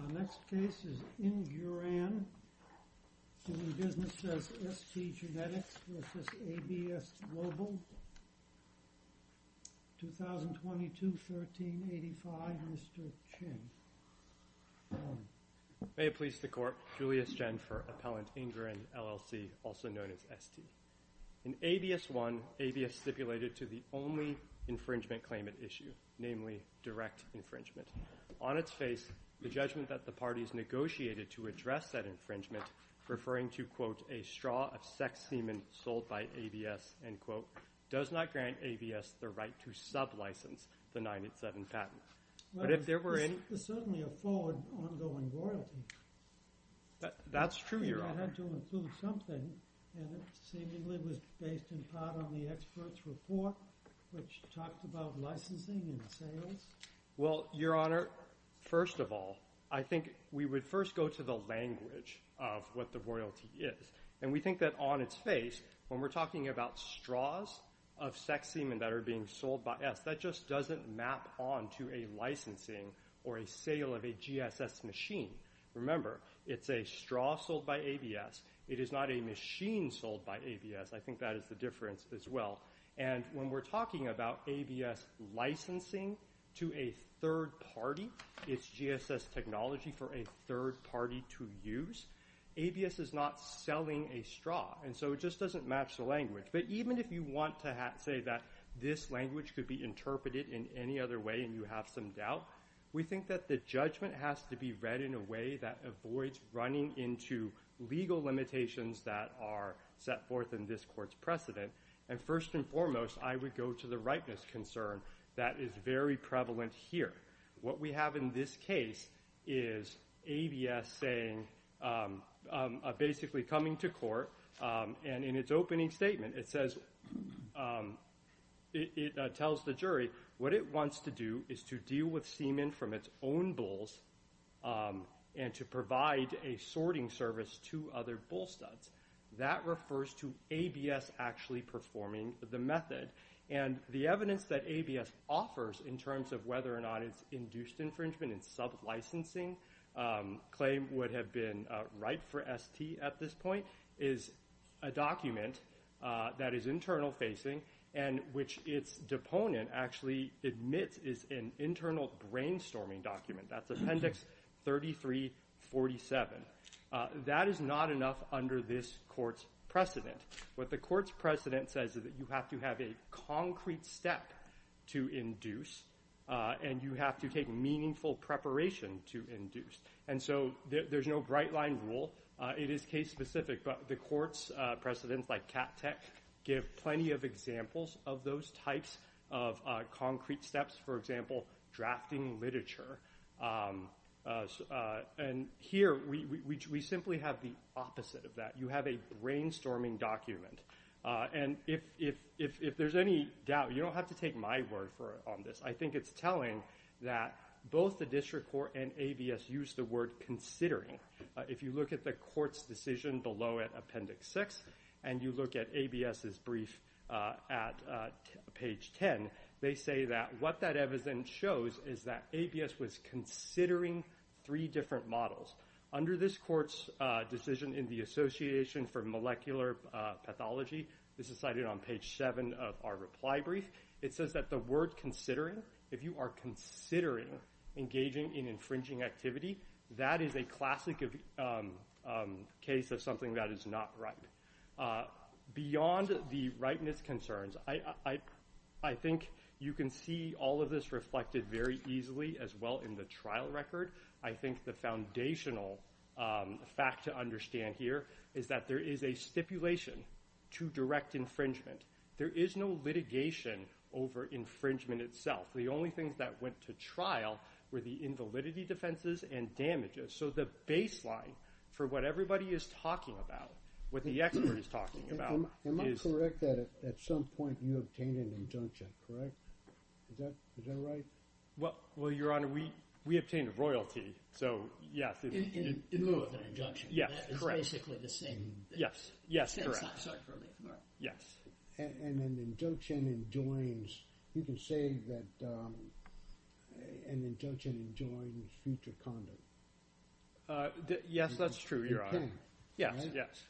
Our next case is Inguran, doing business as ST Genetics v. ABS Global, 2022-1385. Mr. Chin. May it please the Court, Julius Jenfer, appellant Inguran, LLC, also known as ST. In ABS 1, ABS stipulated to the only infringement claimant issue, namely direct infringement. On its face, the judgment that the parties negotiated to address that infringement, referring to, quote, a straw of sex semen sold by ABS, end quote, does not grant ABS the right to sublicense the 987 patent. But if there were any... There's certainly a forward ongoing royalty. That's true, Your Honor. That had to include something, and it seemingly was based in part on the expert's report, which talked about licensing and sales. Well, Your Honor, first of all, I think we would first go to the language of what the royalty is. And we think that on its face, when we're talking about straws of sex semen that are being sold by us, that just doesn't map on to a licensing or a sale of a GSS machine. Remember, it's a straw sold by ABS. It is not a machine sold by ABS. I think that is the difference as well. And when we're talking about ABS licensing to a third party, it's GSS technology for a third party to use. ABS is not selling a straw, and so it just doesn't match the language. But even if you want to say that this language could be interpreted in any other way and you have some doubt, we think that the judgment has to be read in a way that avoids running into legal limitations that are set forth in this court's precedent. And first and foremost, I would go to the ripeness concern that is very prevalent here. What we have in this case is ABS basically coming to court, and in its opening statement, it tells the jury what it wants to do is to deal with semen from its own bulls and to provide a sorting service to other bull studs. That refers to ABS actually performing the method. And the evidence that ABS offers in terms of whether or not it's induced infringement and sub-licensing claim would have been right for ST at this point is a document that is internal facing and which its deponent actually admits is an internal brainstorming document. That's Appendix 3347. That is not enough under this court's precedent. What the court's precedent says is that you have to have a concrete step to induce and you have to take meaningful preparation to induce. And so there's no bright-line rule. It is case-specific, but the court's precedents, like CAT-TEC, give plenty of examples of those types of concrete steps, for example, drafting literature. And here we simply have the opposite of that. You have a brainstorming document. And if there's any doubt, you don't have to take my word for it on this. I think it's telling that both the district court and ABS use the word considering. If you look at the court's decision below it, Appendix 6, and you look at ABS's brief at page 10, they say that what that evidence shows is that ABS was considering three different models. Under this court's decision in the Association for Molecular Pathology, this is cited on page 7 of our reply brief, it says that the word considering, if you are considering engaging in infringing activity, that is a classic case of something that is not right. Beyond the rightness concerns, I think you can see all of this reflected very easily as well in the trial record. I think the foundational fact to understand here is that there is a stipulation to direct infringement. There is no litigation over infringement itself. The only things that went to trial were the invalidity defenses and damages. So the baseline for what everybody is talking about, what the expert is talking about is ‑‑ Am I correct that at some point you obtained an injunction, correct? Is that right? Well, Your Honor, we obtained a royalty, so yes. In lieu of an injunction. Yes, correct. It's basically the same. Yes, yes, correct. I'm sorry for leaving. Yes. And an injunction enjoins, you can say that an injunction enjoins future conduct. Yes, that's true, Your Honor. Yes, yes.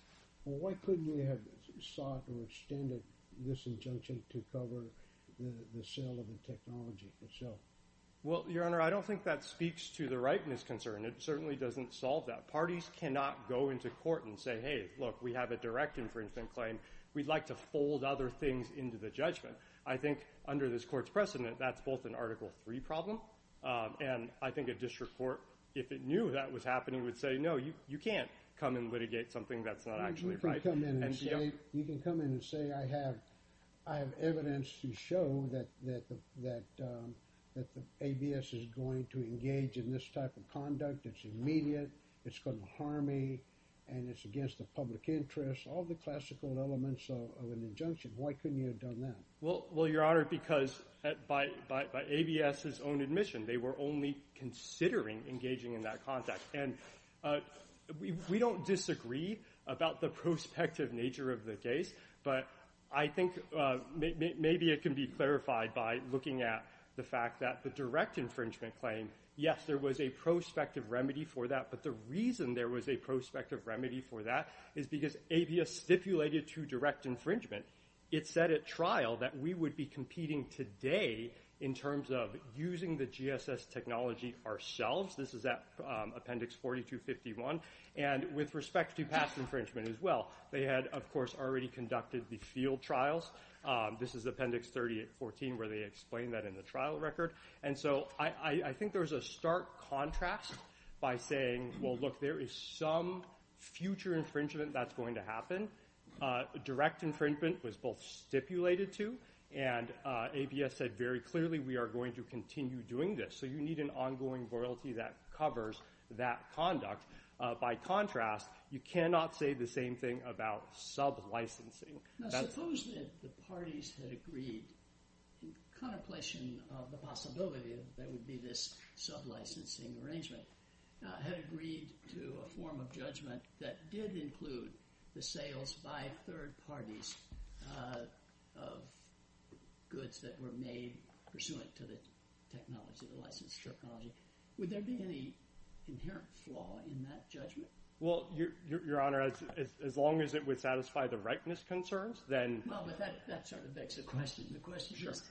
Well, why couldn't you have sought or extended this injunction to cover the sale of the technology itself? Well, Your Honor, I don't think that speaks to the rightness concern. It certainly doesn't solve that. Parties cannot go into court and say, hey, look, we have a direct infringement claim. We'd like to fold other things into the judgment. I think under this court's precedent, that's both an Article III problem and I think a district court, if it knew that was happening, would say, no, you can't come and litigate something that's not actually right. You can come in and say, I have evidence to show that the ABS is going to engage in this type of conduct. It's immediate. It's going to harm me. And it's against the public interest. All the classical elements of an injunction. Why couldn't you have done that? Well, Your Honor, because by ABS's own admission, they were only considering engaging in that context. And we don't disagree about the prospective nature of the case. But I think maybe it can be clarified by looking at the fact that the direct infringement claim, yes, there was a prospective remedy for that. But the reason there was a prospective remedy for that is because ABS stipulated to direct infringement. It said at trial that we would be competing today in terms of using the GSS technology ourselves. This is at Appendix 4251. And with respect to past infringement as well, they had, of course, already conducted the field trials. This is Appendix 3014 where they explain that in the trial record. And so I think there was a stark contrast by saying, well, look, there is some future infringement that's going to happen. Direct infringement was both stipulated to and ABS said very clearly we are going to continue doing this. So you need an ongoing loyalty that covers that conduct. By contrast, you cannot say the same thing about sublicensing. Now suppose that the parties had agreed in contemplation of the possibility that there would be this sublicensing arrangement, had agreed to a form of judgment that did include the sales by third parties of goods that were made pursuant to the technology, the licensed technology. Would there be any inherent flaw in that judgment? Well, Your Honor, as long as it would satisfy the rightness concerns, then. Well, but that sort of begs the question. The question is,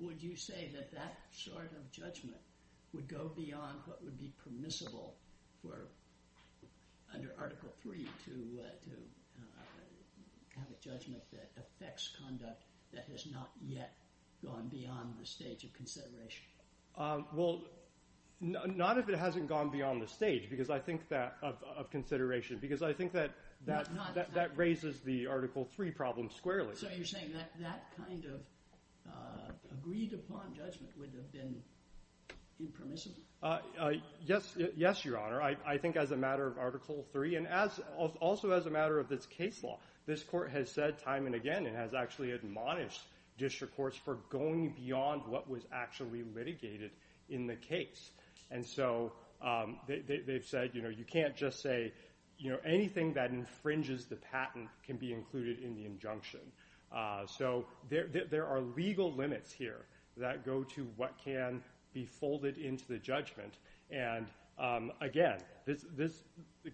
would you say that that sort of judgment would go beyond what would be permissible for under Article 3 to have a judgment that affects conduct that has not yet gone beyond the stage of consideration? Well, not if it hasn't gone beyond the stage of consideration, because I think that that raises the Article 3 problem squarely. So you're saying that that kind of agreed upon judgment would have been impermissible? Yes, Your Honor. I think as a matter of Article 3 and also as a matter of this case law, this court has said time and again and has actually admonished district courts for going beyond what was actually litigated in the case. And so they've said, you know, you can't just say, you know, anything that infringes the patent can be included in the injunction. So there are legal limits here that go to what can be folded into the judgment. And again,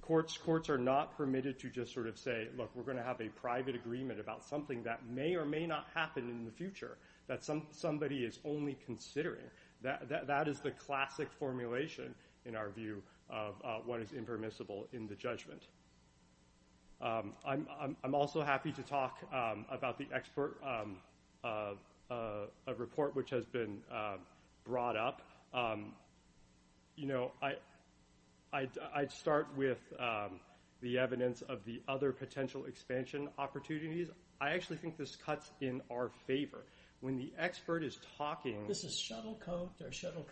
courts are not permitted to just sort of say, look, we're going to have a private agreement about something that may or may not happen in the future that somebody is only considering. That is the classic formulation, in our view, of what is impermissible in the judgment. I'm also happy to talk about the expert report, which has been brought up. You know, I'd start with the evidence of the other potential expansion opportunities. I actually think this cuts in our favor when the expert is talking. This is shuttle coach or shuttle.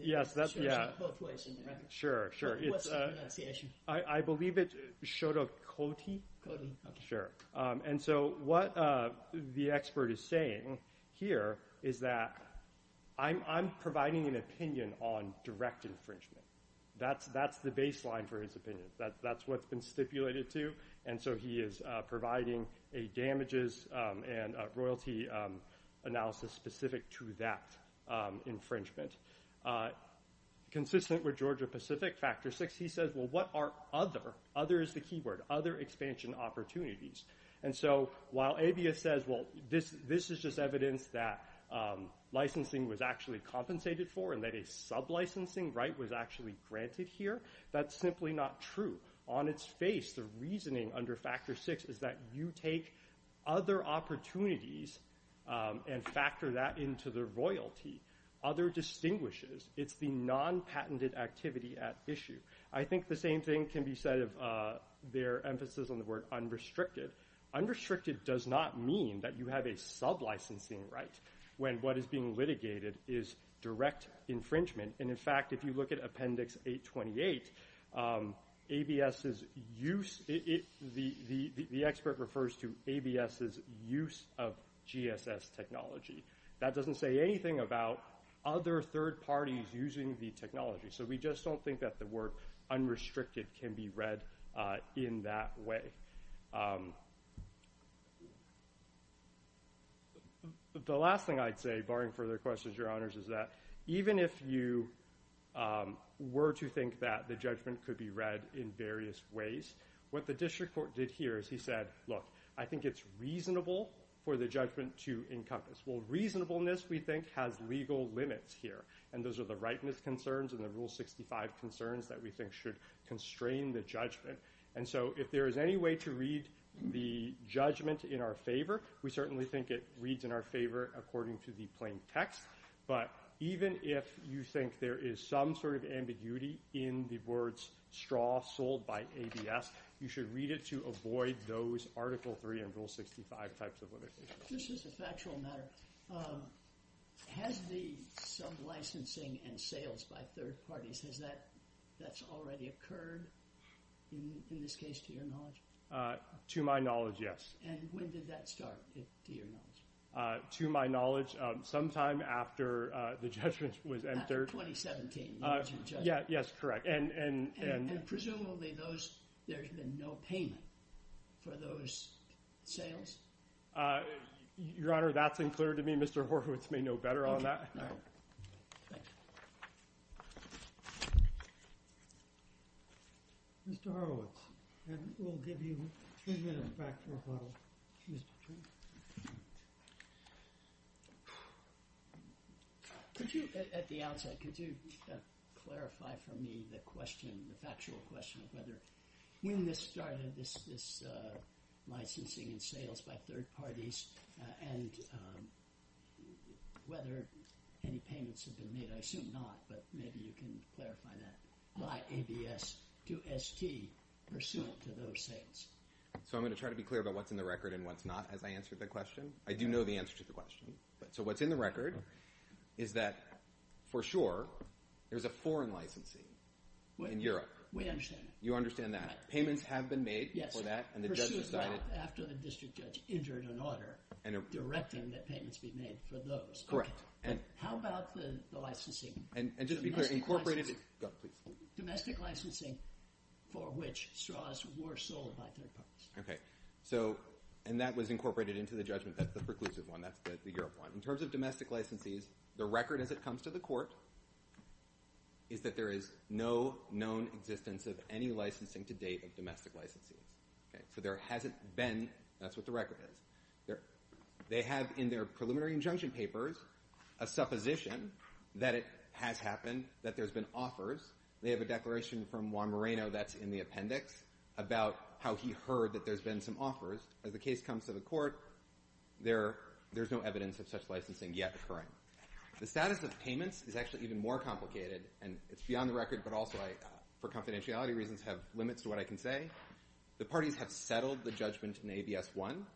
Yes, that's yeah. Sure. Sure. I believe it showed a coat. Sure. And so what the expert is saying here is that I'm providing an opinion on direct infringement. That's that's the baseline for his opinion. That's that's what's been stipulated to. And so he is providing a damages and royalty analysis specific to that infringement. Consistent with Georgia Pacific factor six. He says, well, what are other others? The key word, other expansion opportunities. And so while Abia says, well, this this is just evidence that licensing was actually compensated for and that a sub licensing right was actually granted here. That's simply not true. On its face. The reasoning under factor six is that you take other opportunities and factor that into the royalty. Other distinguishes. It's the non patented activity at issue. I think the same thing can be said of their emphasis on the word unrestricted. Unrestricted does not mean that you have a sub licensing right when what is being litigated is direct infringement. And in fact, if you look at Appendix 828, A.B.S. is use it. The expert refers to A.B.S.'s use of G.S.S. technology. That doesn't say anything about other third parties using the technology. So we just don't think that the word unrestricted can be read in that way. The last thing I'd say, barring further questions, your honors, is that even if you were to think that the judgment could be read in various ways. What the district court did here is he said, look, I think it's reasonable for the judgment to encompass. Well, reasonableness, we think, has legal limits here. And those are the rightness concerns and the rule 65 concerns that we think should constrain the judgment. And so if there is any way to read the judgment in our favor, we certainly think it reads in our favor according to the plain text. But even if you think there is some sort of ambiguity in the words straw sold by A.B.S., you should read it to avoid those Article 3 and Rule 65 types of limitations. This is a factual matter. Has the sub-licensing and sales by third parties, has that that's already occurred in this case, to your knowledge? To my knowledge, yes. And when did that start, to your knowledge? To my knowledge, sometime after the judgment was entered. After 2017. Yes, correct. And presumably those, there's been no payment for those sales? Your Honor, that's unclear to me. Mr. Horowitz may know better on that. All right. Thank you. Mr. Horowitz. And we'll give you three minutes back to rebuttal. Mr. King. Could you, at the outset, could you clarify for me the question, the factual question, whether when this started, this licensing and sales by third parties, and whether any payments have been made? I assume not, but maybe you can clarify that. Why A.B.S. do S.T. pursuant to those sales? So I'm going to try to be clear about what's in the record and what's not as I answer the question. I do know the answer to the question. So what's in the record is that, for sure, there's a foreign licensing in Europe. We understand that. You understand that. Payments have been made for that. Yes. And the judge decided. After the district judge entered an order directing that payments be made for those. Correct. And how about the licensing? And just to be clear, incorporated. Domestic licensing for which straws were sold by third parties. Okay. So, and that was incorporated into the judgment. That's the preclusive one. That's the Europe one. In terms of domestic licensees, the record as it comes to the court is that there is no known existence of any licensing to date of domestic licensees. Okay. So there hasn't been. That's what the record is. They have in their preliminary injunction papers a supposition that it has happened, that there's been offers. They have a declaration from Juan Moreno that's in the appendix about how he heard that there's been some offers. As the case comes to the court, there's no evidence of such licensing yet occurring. The status of payments is actually even more complicated, and it's beyond the record, but also I, for confidentiality reasons, have limits to what I can say. The parties have settled the judgment in ABS 1.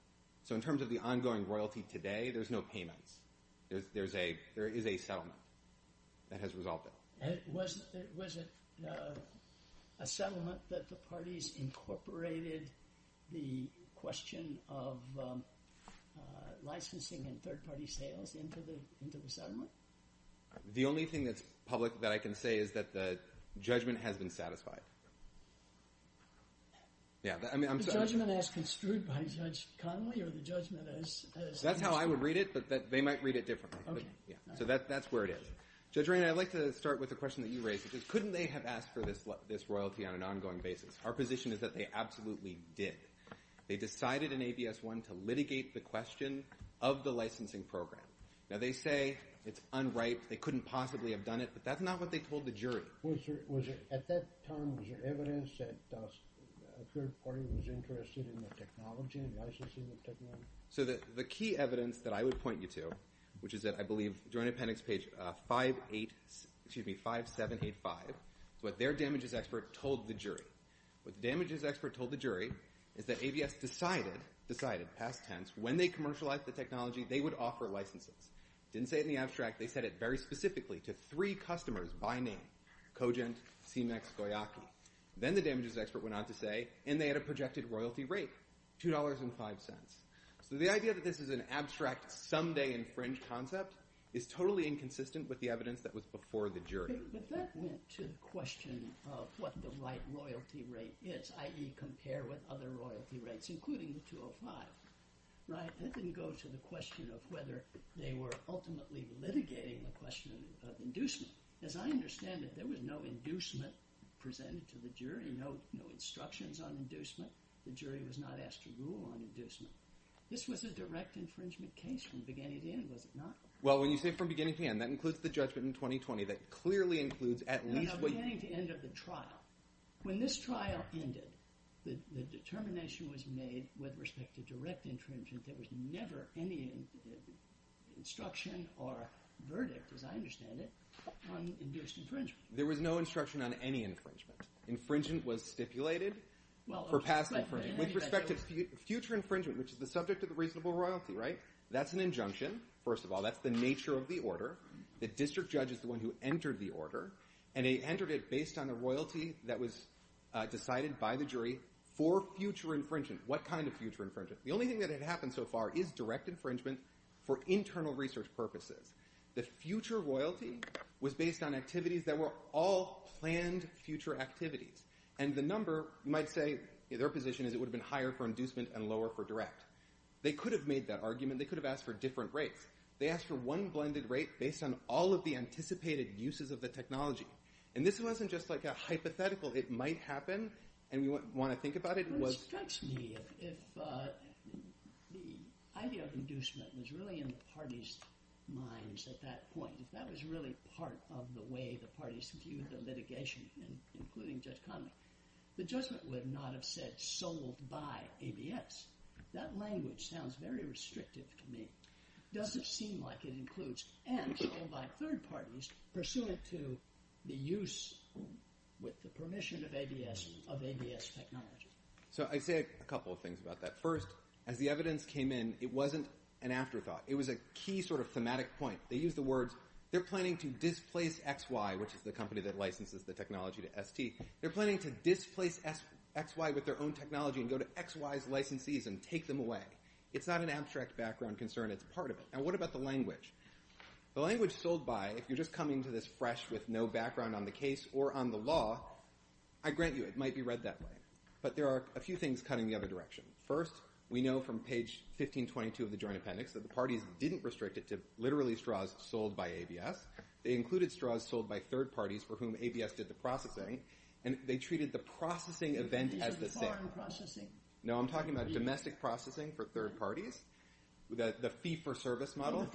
So in terms of the ongoing royalty today, there's no payments. There is a settlement that has resolved it. Was it a settlement that the parties incorporated the question of licensing and third-party sales into the settlement? The only thing that's public that I can say is that the judgment has been satisfied. The judgment as construed by Judge Connolly or the judgment as construed? That's how I would read it, but they might read it differently. Okay. So that's where it is. Judge Rainer, I'd like to start with the question that you raised, which is couldn't they have asked for this royalty on an ongoing basis? Our position is that they absolutely did. They decided in ABS 1 to litigate the question of the licensing program. Now, they say it's unright. They couldn't possibly have done it, but that's not what they told the jury. At that time, was there evidence that a third party was interested in the technology, in licensing the technology? So the key evidence that I would point you to, which is at, I believe, Joint Appendix page 5785, is what their damages expert told the jury. What the damages expert told the jury is that ABS decided, past tense, when they commercialized the technology, they would offer licenses. Didn't say it in the abstract. They said it very specifically to three customers by name, Cogent, CMEX, Koyaki. Then the damages expert went on to say, and they had a projected royalty rate, $2.05. So the idea that this is an abstract, someday-in-fringe concept is totally inconsistent with the evidence that was before the jury. But that went to the question of what the right royalty rate is, i.e., compare with other royalty rates, including the $2.05, right? That didn't go to the question of whether they were ultimately litigating the question of inducement. As I understand it, there was no inducement presented to the jury, no instructions on inducement. The jury was not asked to rule on inducement. This was a direct infringement case from beginning to end, was it not? Well, when you say from beginning to end, that includes the judgment in 2020 that clearly includes at least what you said. No, beginning to end of the trial. When this trial ended, the determination was made with respect to direct infringement. There was never any instruction or verdict, as I understand it, on induced infringement. There was no instruction on any infringement. Infringent was stipulated for past infringement. With respect to future infringement, which is the subject of the reasonable royalty, right? That's an injunction, first of all. That's the nature of the order. The district judge is the one who entered the order, and they entered it based on the royalty that was decided by the jury for future infringement. What kind of future infringement? The only thing that had happened so far is direct infringement for internal research purposes. The future royalty was based on activities that were all planned future activities. And the number, you might say, their position is it would have been higher for inducement and lower for direct. They could have made that argument. They could have asked for different rates. They asked for one blended rate based on all of the anticipated uses of the technology. And this wasn't just like a hypothetical. It might happen, and we want to think about it. It strikes me if the idea of inducement was really in the party's minds at that point, if that was really part of the way the parties viewed the litigation, including Judge Conley, the judgment would not have said sold by ABS. That language sounds very restrictive to me. Does it seem like it includes ends sold by third parties pursuant to the use with the permission of ABS technology? So I'd say a couple of things about that. First, as the evidence came in, it wasn't an afterthought. It was a key sort of thematic point. They used the words, they're planning to displace XY, which is the company that licenses the technology to ST. They're planning to displace XY with their own technology and go to XY's licensees and take them away. It's not an abstract background concern. It's part of it. Now what about the language? The language sold by, if you're just coming to this fresh with no background on the case or on the law, I grant you it might be read that way. But there are a few things cutting the other direction. First, we know from page 1522 of the Joint Appendix that the parties didn't restrict it to literally straws sold by ABS. They included straws sold by third parties for whom ABS did the processing, and they treated the processing event as the same. No, I'm talking about domestic processing for third parties, the fee-for-service model.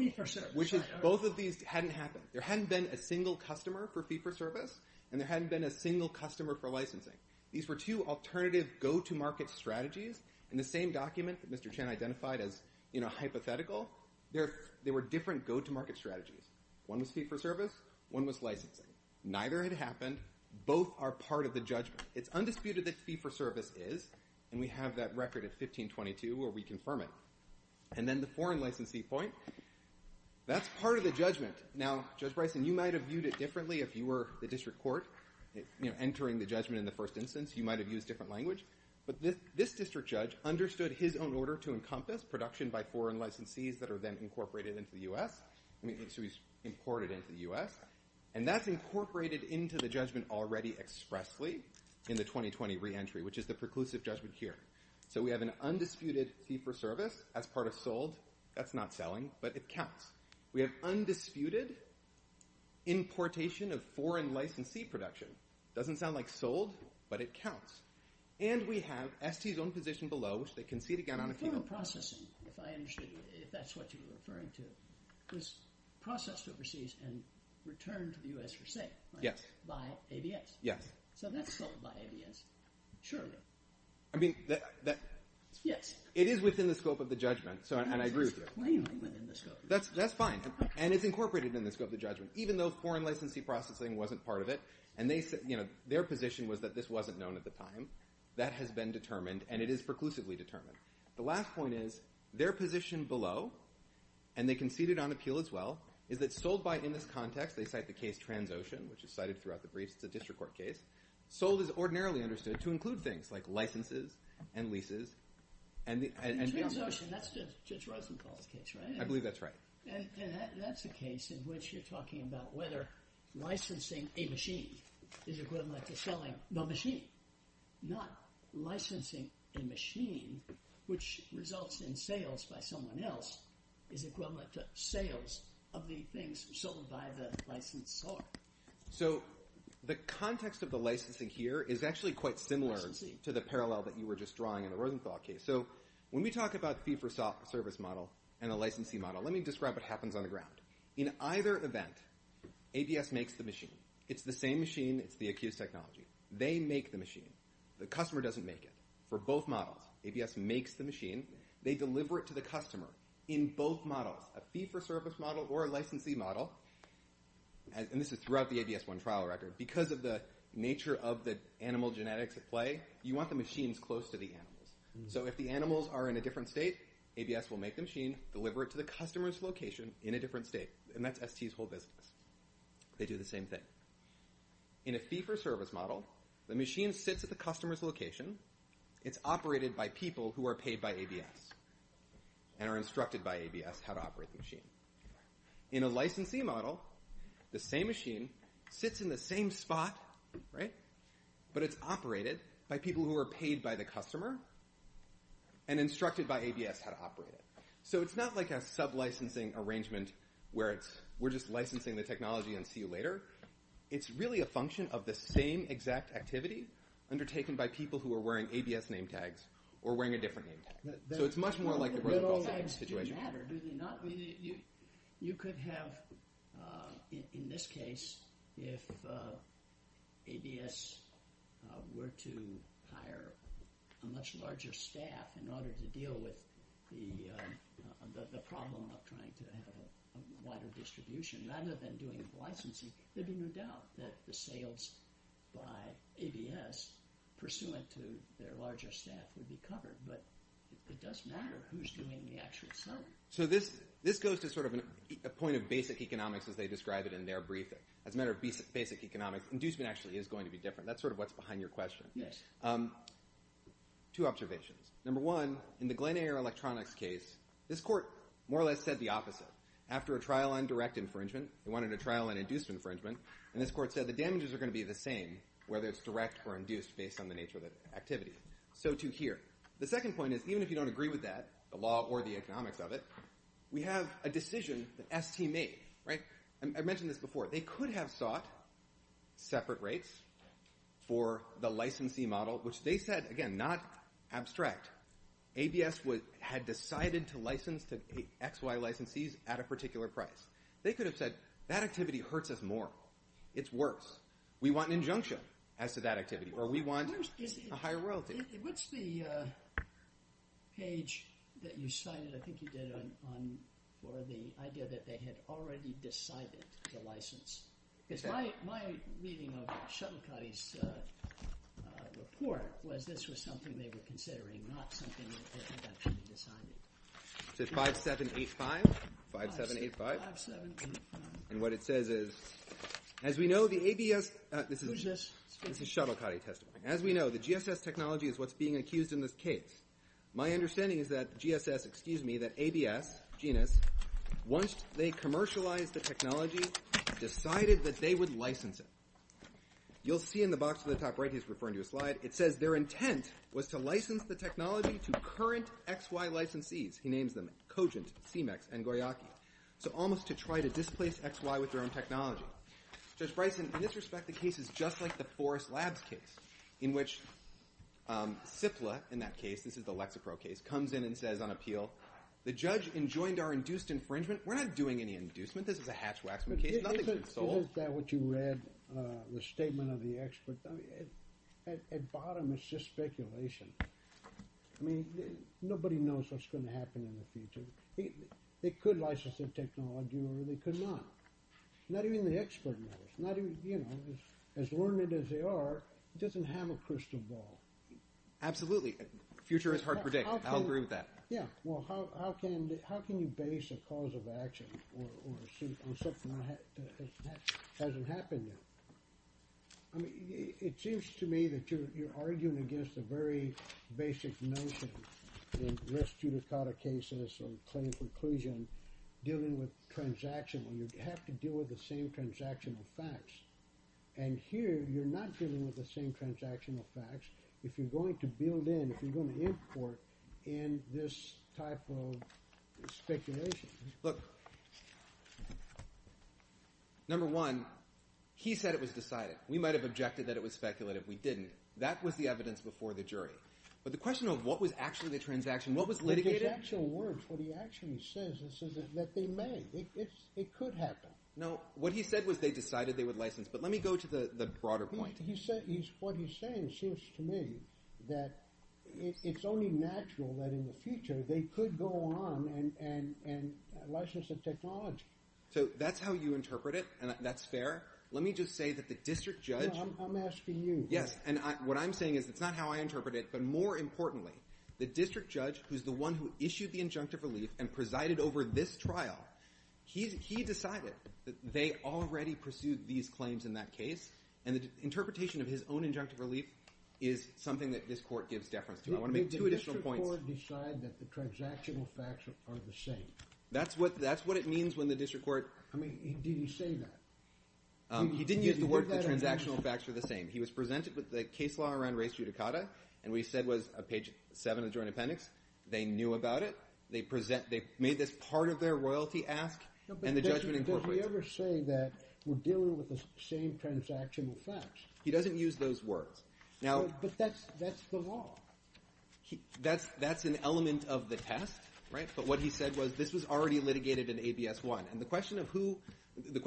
Both of these hadn't happened. There hadn't been a single customer for fee-for-service, and there hadn't been a single customer for licensing. These were two alternative go-to-market strategies in the same document that Mr. Chen identified as hypothetical. They were different go-to-market strategies. One was fee-for-service. One was licensing. Neither had happened. Both are part of the judgment. It's undisputed that fee-for-service is, and we have that record at 1522 where we confirm it. And then the foreign licensee point, that's part of the judgment. Now, Judge Bryson, you might have viewed it differently if you were the district court entering the judgment in the first instance. You might have used different language. But this district judge understood his own order to encompass production by foreign licensees that are then incorporated into the U.S. So he's imported into the U.S. And that's incorporated into the judgment already expressly in the 2020 reentry, which is the preclusive judgment here. So we have an undisputed fee-for-service as part of sold. That's not selling, but it counts. We have undisputed importation of foreign licensee production. Doesn't sound like sold, but it counts. And we have ST's own position below, which they concede again on a fee-for-service. If that's what you're referring to, it was processed overseas and returned to the U.S. for sale by ABS. So that's sold by ABS, surely. Yes. It is within the scope of the judgment, and I agree with you. That's fine, and it's incorporated in the scope of the judgment. Even though foreign licensee processing wasn't part of it, and their position was that this wasn't known at the time, that has been determined, and it is preclusively determined. The last point is their position below, and they conceded on appeal as well, is that sold by, in this context, they cite the case TransOcean, which is cited throughout the briefs. It's a district court case. Sold is ordinarily understood to include things like licenses and leases. TransOcean, that's Judge Rosenthal's case, right? I believe that's right. That's a case in which you're talking about whether licensing a machine is equivalent to selling the machine. Not licensing a machine, which results in sales by someone else, is equivalent to sales of the things sold by the licensee. So the context of the licensing here is actually quite similar to the parallel that you were just drawing in the Rosenthal case. So when we talk about fee-for-service model and the licensee model, let me describe what happens on the ground. In either event, ABS makes the machine. It's the same machine. It's the accused technology. They make the machine. The customer doesn't make it. For both models, ABS makes the machine. They deliver it to the customer. In both models, a fee-for-service model or a licensee model, and this is throughout the ABS 1 trial record, because of the nature of the animal genetics at play, you want the machines close to the animals. So if the animals are in a different state, ABS will make the machine, deliver it to the customer's location in a different state, and that's ST's whole business. They do the same thing. In a fee-for-service model, the machine sits at the customer's location. It's operated by people who are paid by ABS and are instructed by ABS how to operate the machine. In a licensee model, the same machine sits in the same spot, right, but it's operated by people who are paid by the customer and instructed by ABS how to operate it. So it's not like a sub-licensing arrangement where it's we're just licensing the technology and see you later. It's really a function of the same exact activity undertaken by people who are wearing ABS name tags or wearing a different name tag. So it's much more like the Rosenthal safety situation. The role tags do matter, do they not? You could have, in this case, if ABS were to hire a much larger staff in order to deal with the problem of trying to have a wider distribution, rather than doing the licensing, there'd be no doubt that the sales by ABS, pursuant to their larger staff, would be covered. But it does matter who's doing the actual selling. So this goes to sort of a point of basic economics as they describe it in their briefing. As a matter of basic economics, inducement actually is going to be different. That's sort of what's behind your question. Two observations. Number one, in the Glen Eyre Electronics case, this court more or less said the opposite. After a trial on direct infringement, they wanted a trial on induced infringement, and this court said the damages are going to be the same, whether it's direct or induced based on the nature of the activity. So too here. The second point is, even if you don't agree with that, the law or the economics of it, we have a decision that ST made. I mentioned this before. They could have sought separate rates for the licensee model, which they said, again, not abstract. ABS had decided to license to XY licensees at a particular price. They could have said, that activity hurts us more. It's worse. We want an injunction as to that activity, or we want a higher royalty. What's the page that you cited, I think you did, for the idea that they had already decided to license? Because my reading of Shuttlecotty's report was this was something they were considering, not something that had actually been decided. So it's 5785? 5785. 5785. And what it says is, as we know, the ABS – Who's this? This is Shuttlecotty testifying. As we know, the GSS technology is what's being accused in this case. My understanding is that GSS – excuse me – that ABS, GNS, once they commercialized the technology, decided that they would license it. You'll see in the box at the top right, he's referring to a slide, it says their intent was to license the technology to current XY licensees. He names them. Cogent, CMEX, and Goyaki. So almost to try to displace XY with their own technology. Judge Bryson, in this respect, the case is just like the Forest Labs case, in which CIPLA, in that case, this is the Lexapro case, comes in and says on appeal, the judge enjoined our induced infringement. We're not doing any inducement. This is a hatch-waxman case. Nothing's been sold. Isn't that what you read, the statement of the expert? At bottom, it's just speculation. I mean, nobody knows what's going to happen in the future. They could license the technology, or they could not. Not even the expert knows. As learned as they are, it doesn't have a crystal ball. Absolutely. The future is hard to predict. I'll agree with that. Yeah. Well, how can you base a cause of action on something that hasn't happened yet? I mean, it seems to me that you're arguing against a very basic notion in risk-judicata cases or claim conclusion dealing with transaction. You have to deal with the same transactional facts. And here, you're not dealing with the same transactional facts if you're going to build in, if you're going to import in this type of speculation. Look, number one, he said it was decided. We might have objected that it was speculative. We didn't. That was the evidence before the jury. But the question of what was actually the transaction, what was litigated... It's actual words. What he actually says is that they may. It could happen. No, what he said was they decided they would license. But let me go to the broader point. What he's saying seems to me that it's only natural that in the future they could go on and license the technology. So that's how you interpret it, and that's fair? Let me just say that the district judge... I'm asking you. Yes, and what I'm saying is it's not how I interpret it, but more importantly, the district judge, who's the one who issued the injunctive relief and presided over this trial, he decided that they already pursued these claims in that case, and the interpretation of his own injunctive relief is something that this Court gives deference to. I want to make two additional points. Did the district court decide that the transactional facts are the same? That's what it means when the district court... I mean, did he say that? He didn't use the word that the transactional facts were the same. He was presented with the case law around race judicata, and what he said was page 7 of the Joint Appendix. They knew about it. They made this part of their royalty ask, and the judgment incorporates it. Does he ever say that we're dealing with the same transactional facts? He doesn't use those words. But that's the law. That's an element of the test, right? But what he said was this was already litigated in ABS-1, and the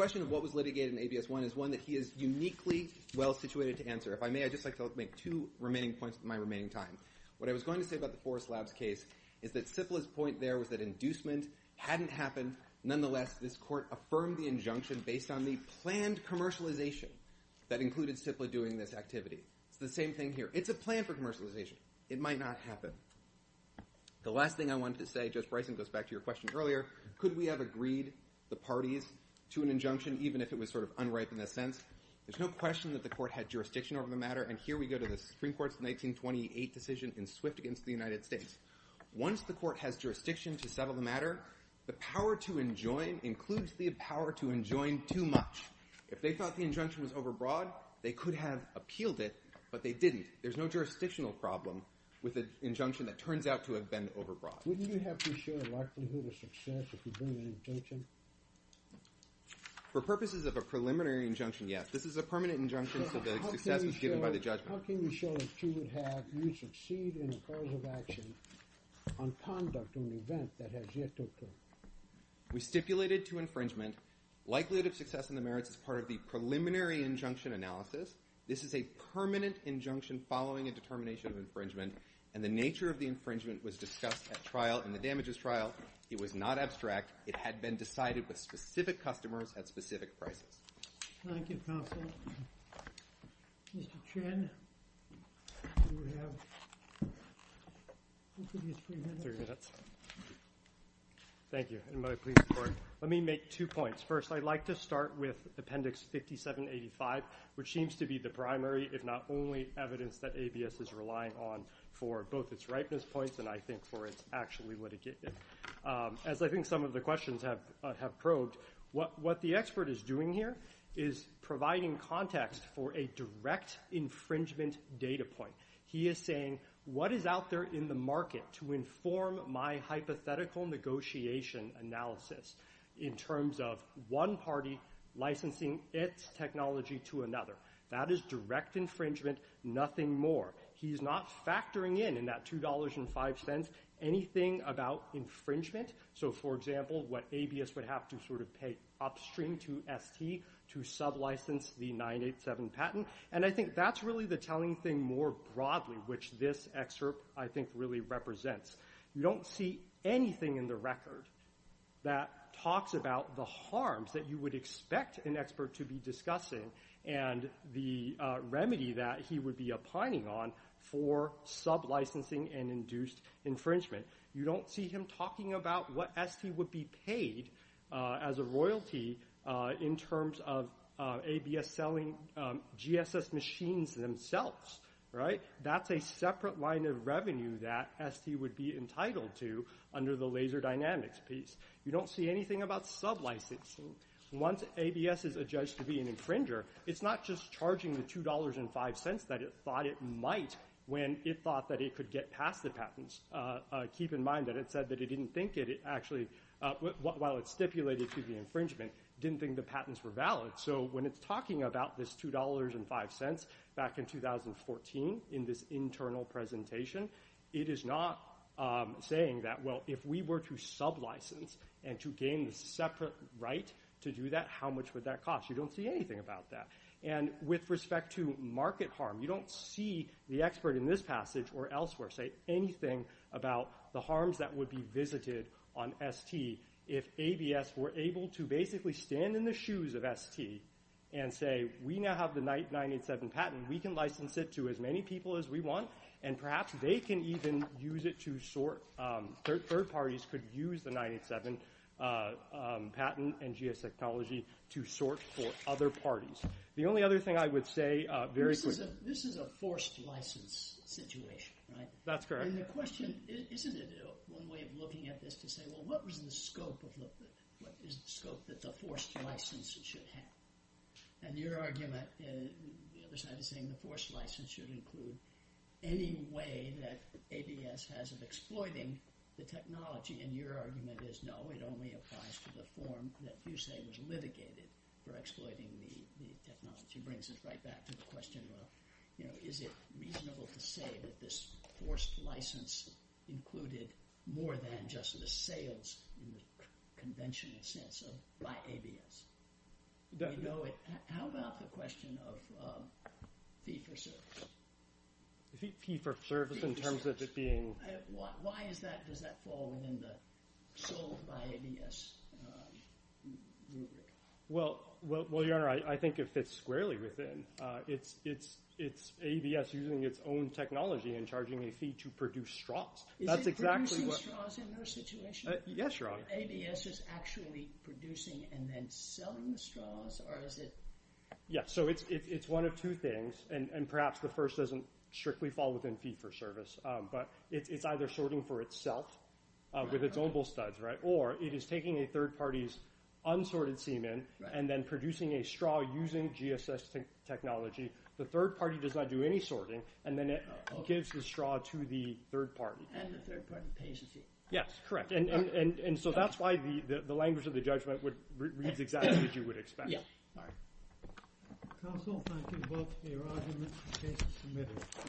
question of what was litigated in ABS-1 is one that he is uniquely well-situated to answer. If I may, I'd just like to make two remaining points in my remaining time. What I was going to say about the Forest Labs case is that CIPLA's point there was that inducement hadn't happened. Nonetheless, this court affirmed the injunction based on the planned commercialization that included CIPLA doing this activity. It's the same thing here. It's a plan for commercialization. It might not happen. The last thing I wanted to say, Judge Bryson, goes back to your question earlier, could we have agreed the parties to an injunction even if it was sort of unripe in a sense? There's no question that the court had jurisdiction over the matter, and here we go to the Supreme Court's 1928 decision in Swift against the United States. Once the court has jurisdiction to settle the matter, the power to enjoin includes the power to enjoin too much. If they thought the injunction was overbroad, they could have appealed it, but they didn't. There's no jurisdictional problem with an injunction that turns out to have been overbroad. Wouldn't you have to show a likelihood of success if you bring an injunction? For purposes of a preliminary injunction, yes. This is a permanent injunction so that success was given by the judgment. How can you show that you would have, you would succeed in a cause of action on conduct on an event that has yet to occur? We stipulated to infringement likelihood of success in the merits as part of the preliminary injunction analysis. This is a permanent injunction following a determination of infringement, and the nature of the infringement was discussed at trial in the damages trial. It was not abstract. It had been decided with specific customers at specific prices. Thank you, counsel. Mr. Chen, you have three minutes. Three minutes. Thank you. Let me make two points. First, I'd like to start with Appendix 5785, which seems to be the primary, if not only, evidence that ABS is relying on for both its ripeness points and, I think, for its actually litigating. As I think some of the questions have probed, what the expert is doing here is providing context for a direct infringement data point. He is saying, what is out there in the market to inform my hypothetical negotiation analysis in terms of one party licensing its technology to another? That is direct infringement. Nothing more. He's not factoring in, in that $2.05, anything about infringement. So, for example, what ABS would have to pay upstream to ST to sublicense the 987 patent. And I think that's really the telling thing more broadly, which this excerpt, I think, really represents. You don't see anything in the record that talks about the harms that you would expect an expert to be discussing and the remedy that he would be opining on for sublicensing and induced infringement. You don't see him talking about what ST would be paid as a royalty in terms of ABS selling GSS machines themselves. That's a separate line of revenue that ST would be entitled to under the laser dynamics piece. You don't see anything about sublicensing. Once ABS is adjudged to be an infringer, it's not just charging the $2.05 that it thought it might when it thought that it could get past the patents. Keep in mind that it said that it didn't think it actually, while it stipulated to the infringement, didn't think the patents were valid. So when it's talking about this $2.05 back in 2014 in this internal presentation, it is not saying that, well, if we were to sublicense and to gain the separate right to do that, how much would that cost? You don't see anything about that. And with respect to market harm, you don't see the expert in this passage or elsewhere say anything about the harms that would be visited on ST if ABS were able to basically stand in the shoes of ST and say, we now have the 987 patent, we can license it to as many people as we want, and perhaps they can even use it to sort... Third parties could use the 987 patent and GSS technology to sort for other parties. The only other thing I would say... This is a forced license situation, right? That's correct. And the question, isn't it one way of looking at this to say, well, what is the scope that the forced license should have? And your argument, the other side is saying the forced license should include any way that ABS has of exploiting the technology, and your argument is, no, it only applies to the form that you say was litigated for exploiting the technology. Which brings us right back to the question of, is it reasonable to say that this forced license included more than just the sales, in the conventional sense, by ABS? How about the question of fee for service? Fee for service in terms of it being... Why does that fall within the sold by ABS rubric? Well, Your Honor, I think it fits squarely within. It's ABS using its own technology and charging a fee to produce straws. Is it producing straws in their situation? Yes, Your Honor. ABS is actually producing and then selling the straws, or is it... Yeah, so it's one of two things, and perhaps the first doesn't strictly fall within fee for service, but it's either sorting for itself with its own bull studs, right, or it is taking a third party's unsorted semen and then producing a straw using GSS technology. The third party does not do any sorting, and then it gives the straw to the third party. And the third party pays the fee. Yes, correct. And so that's why the language of the judgment reads exactly as you would expect. Yes. Counsel, thank you both for your arguments. The case is submitted.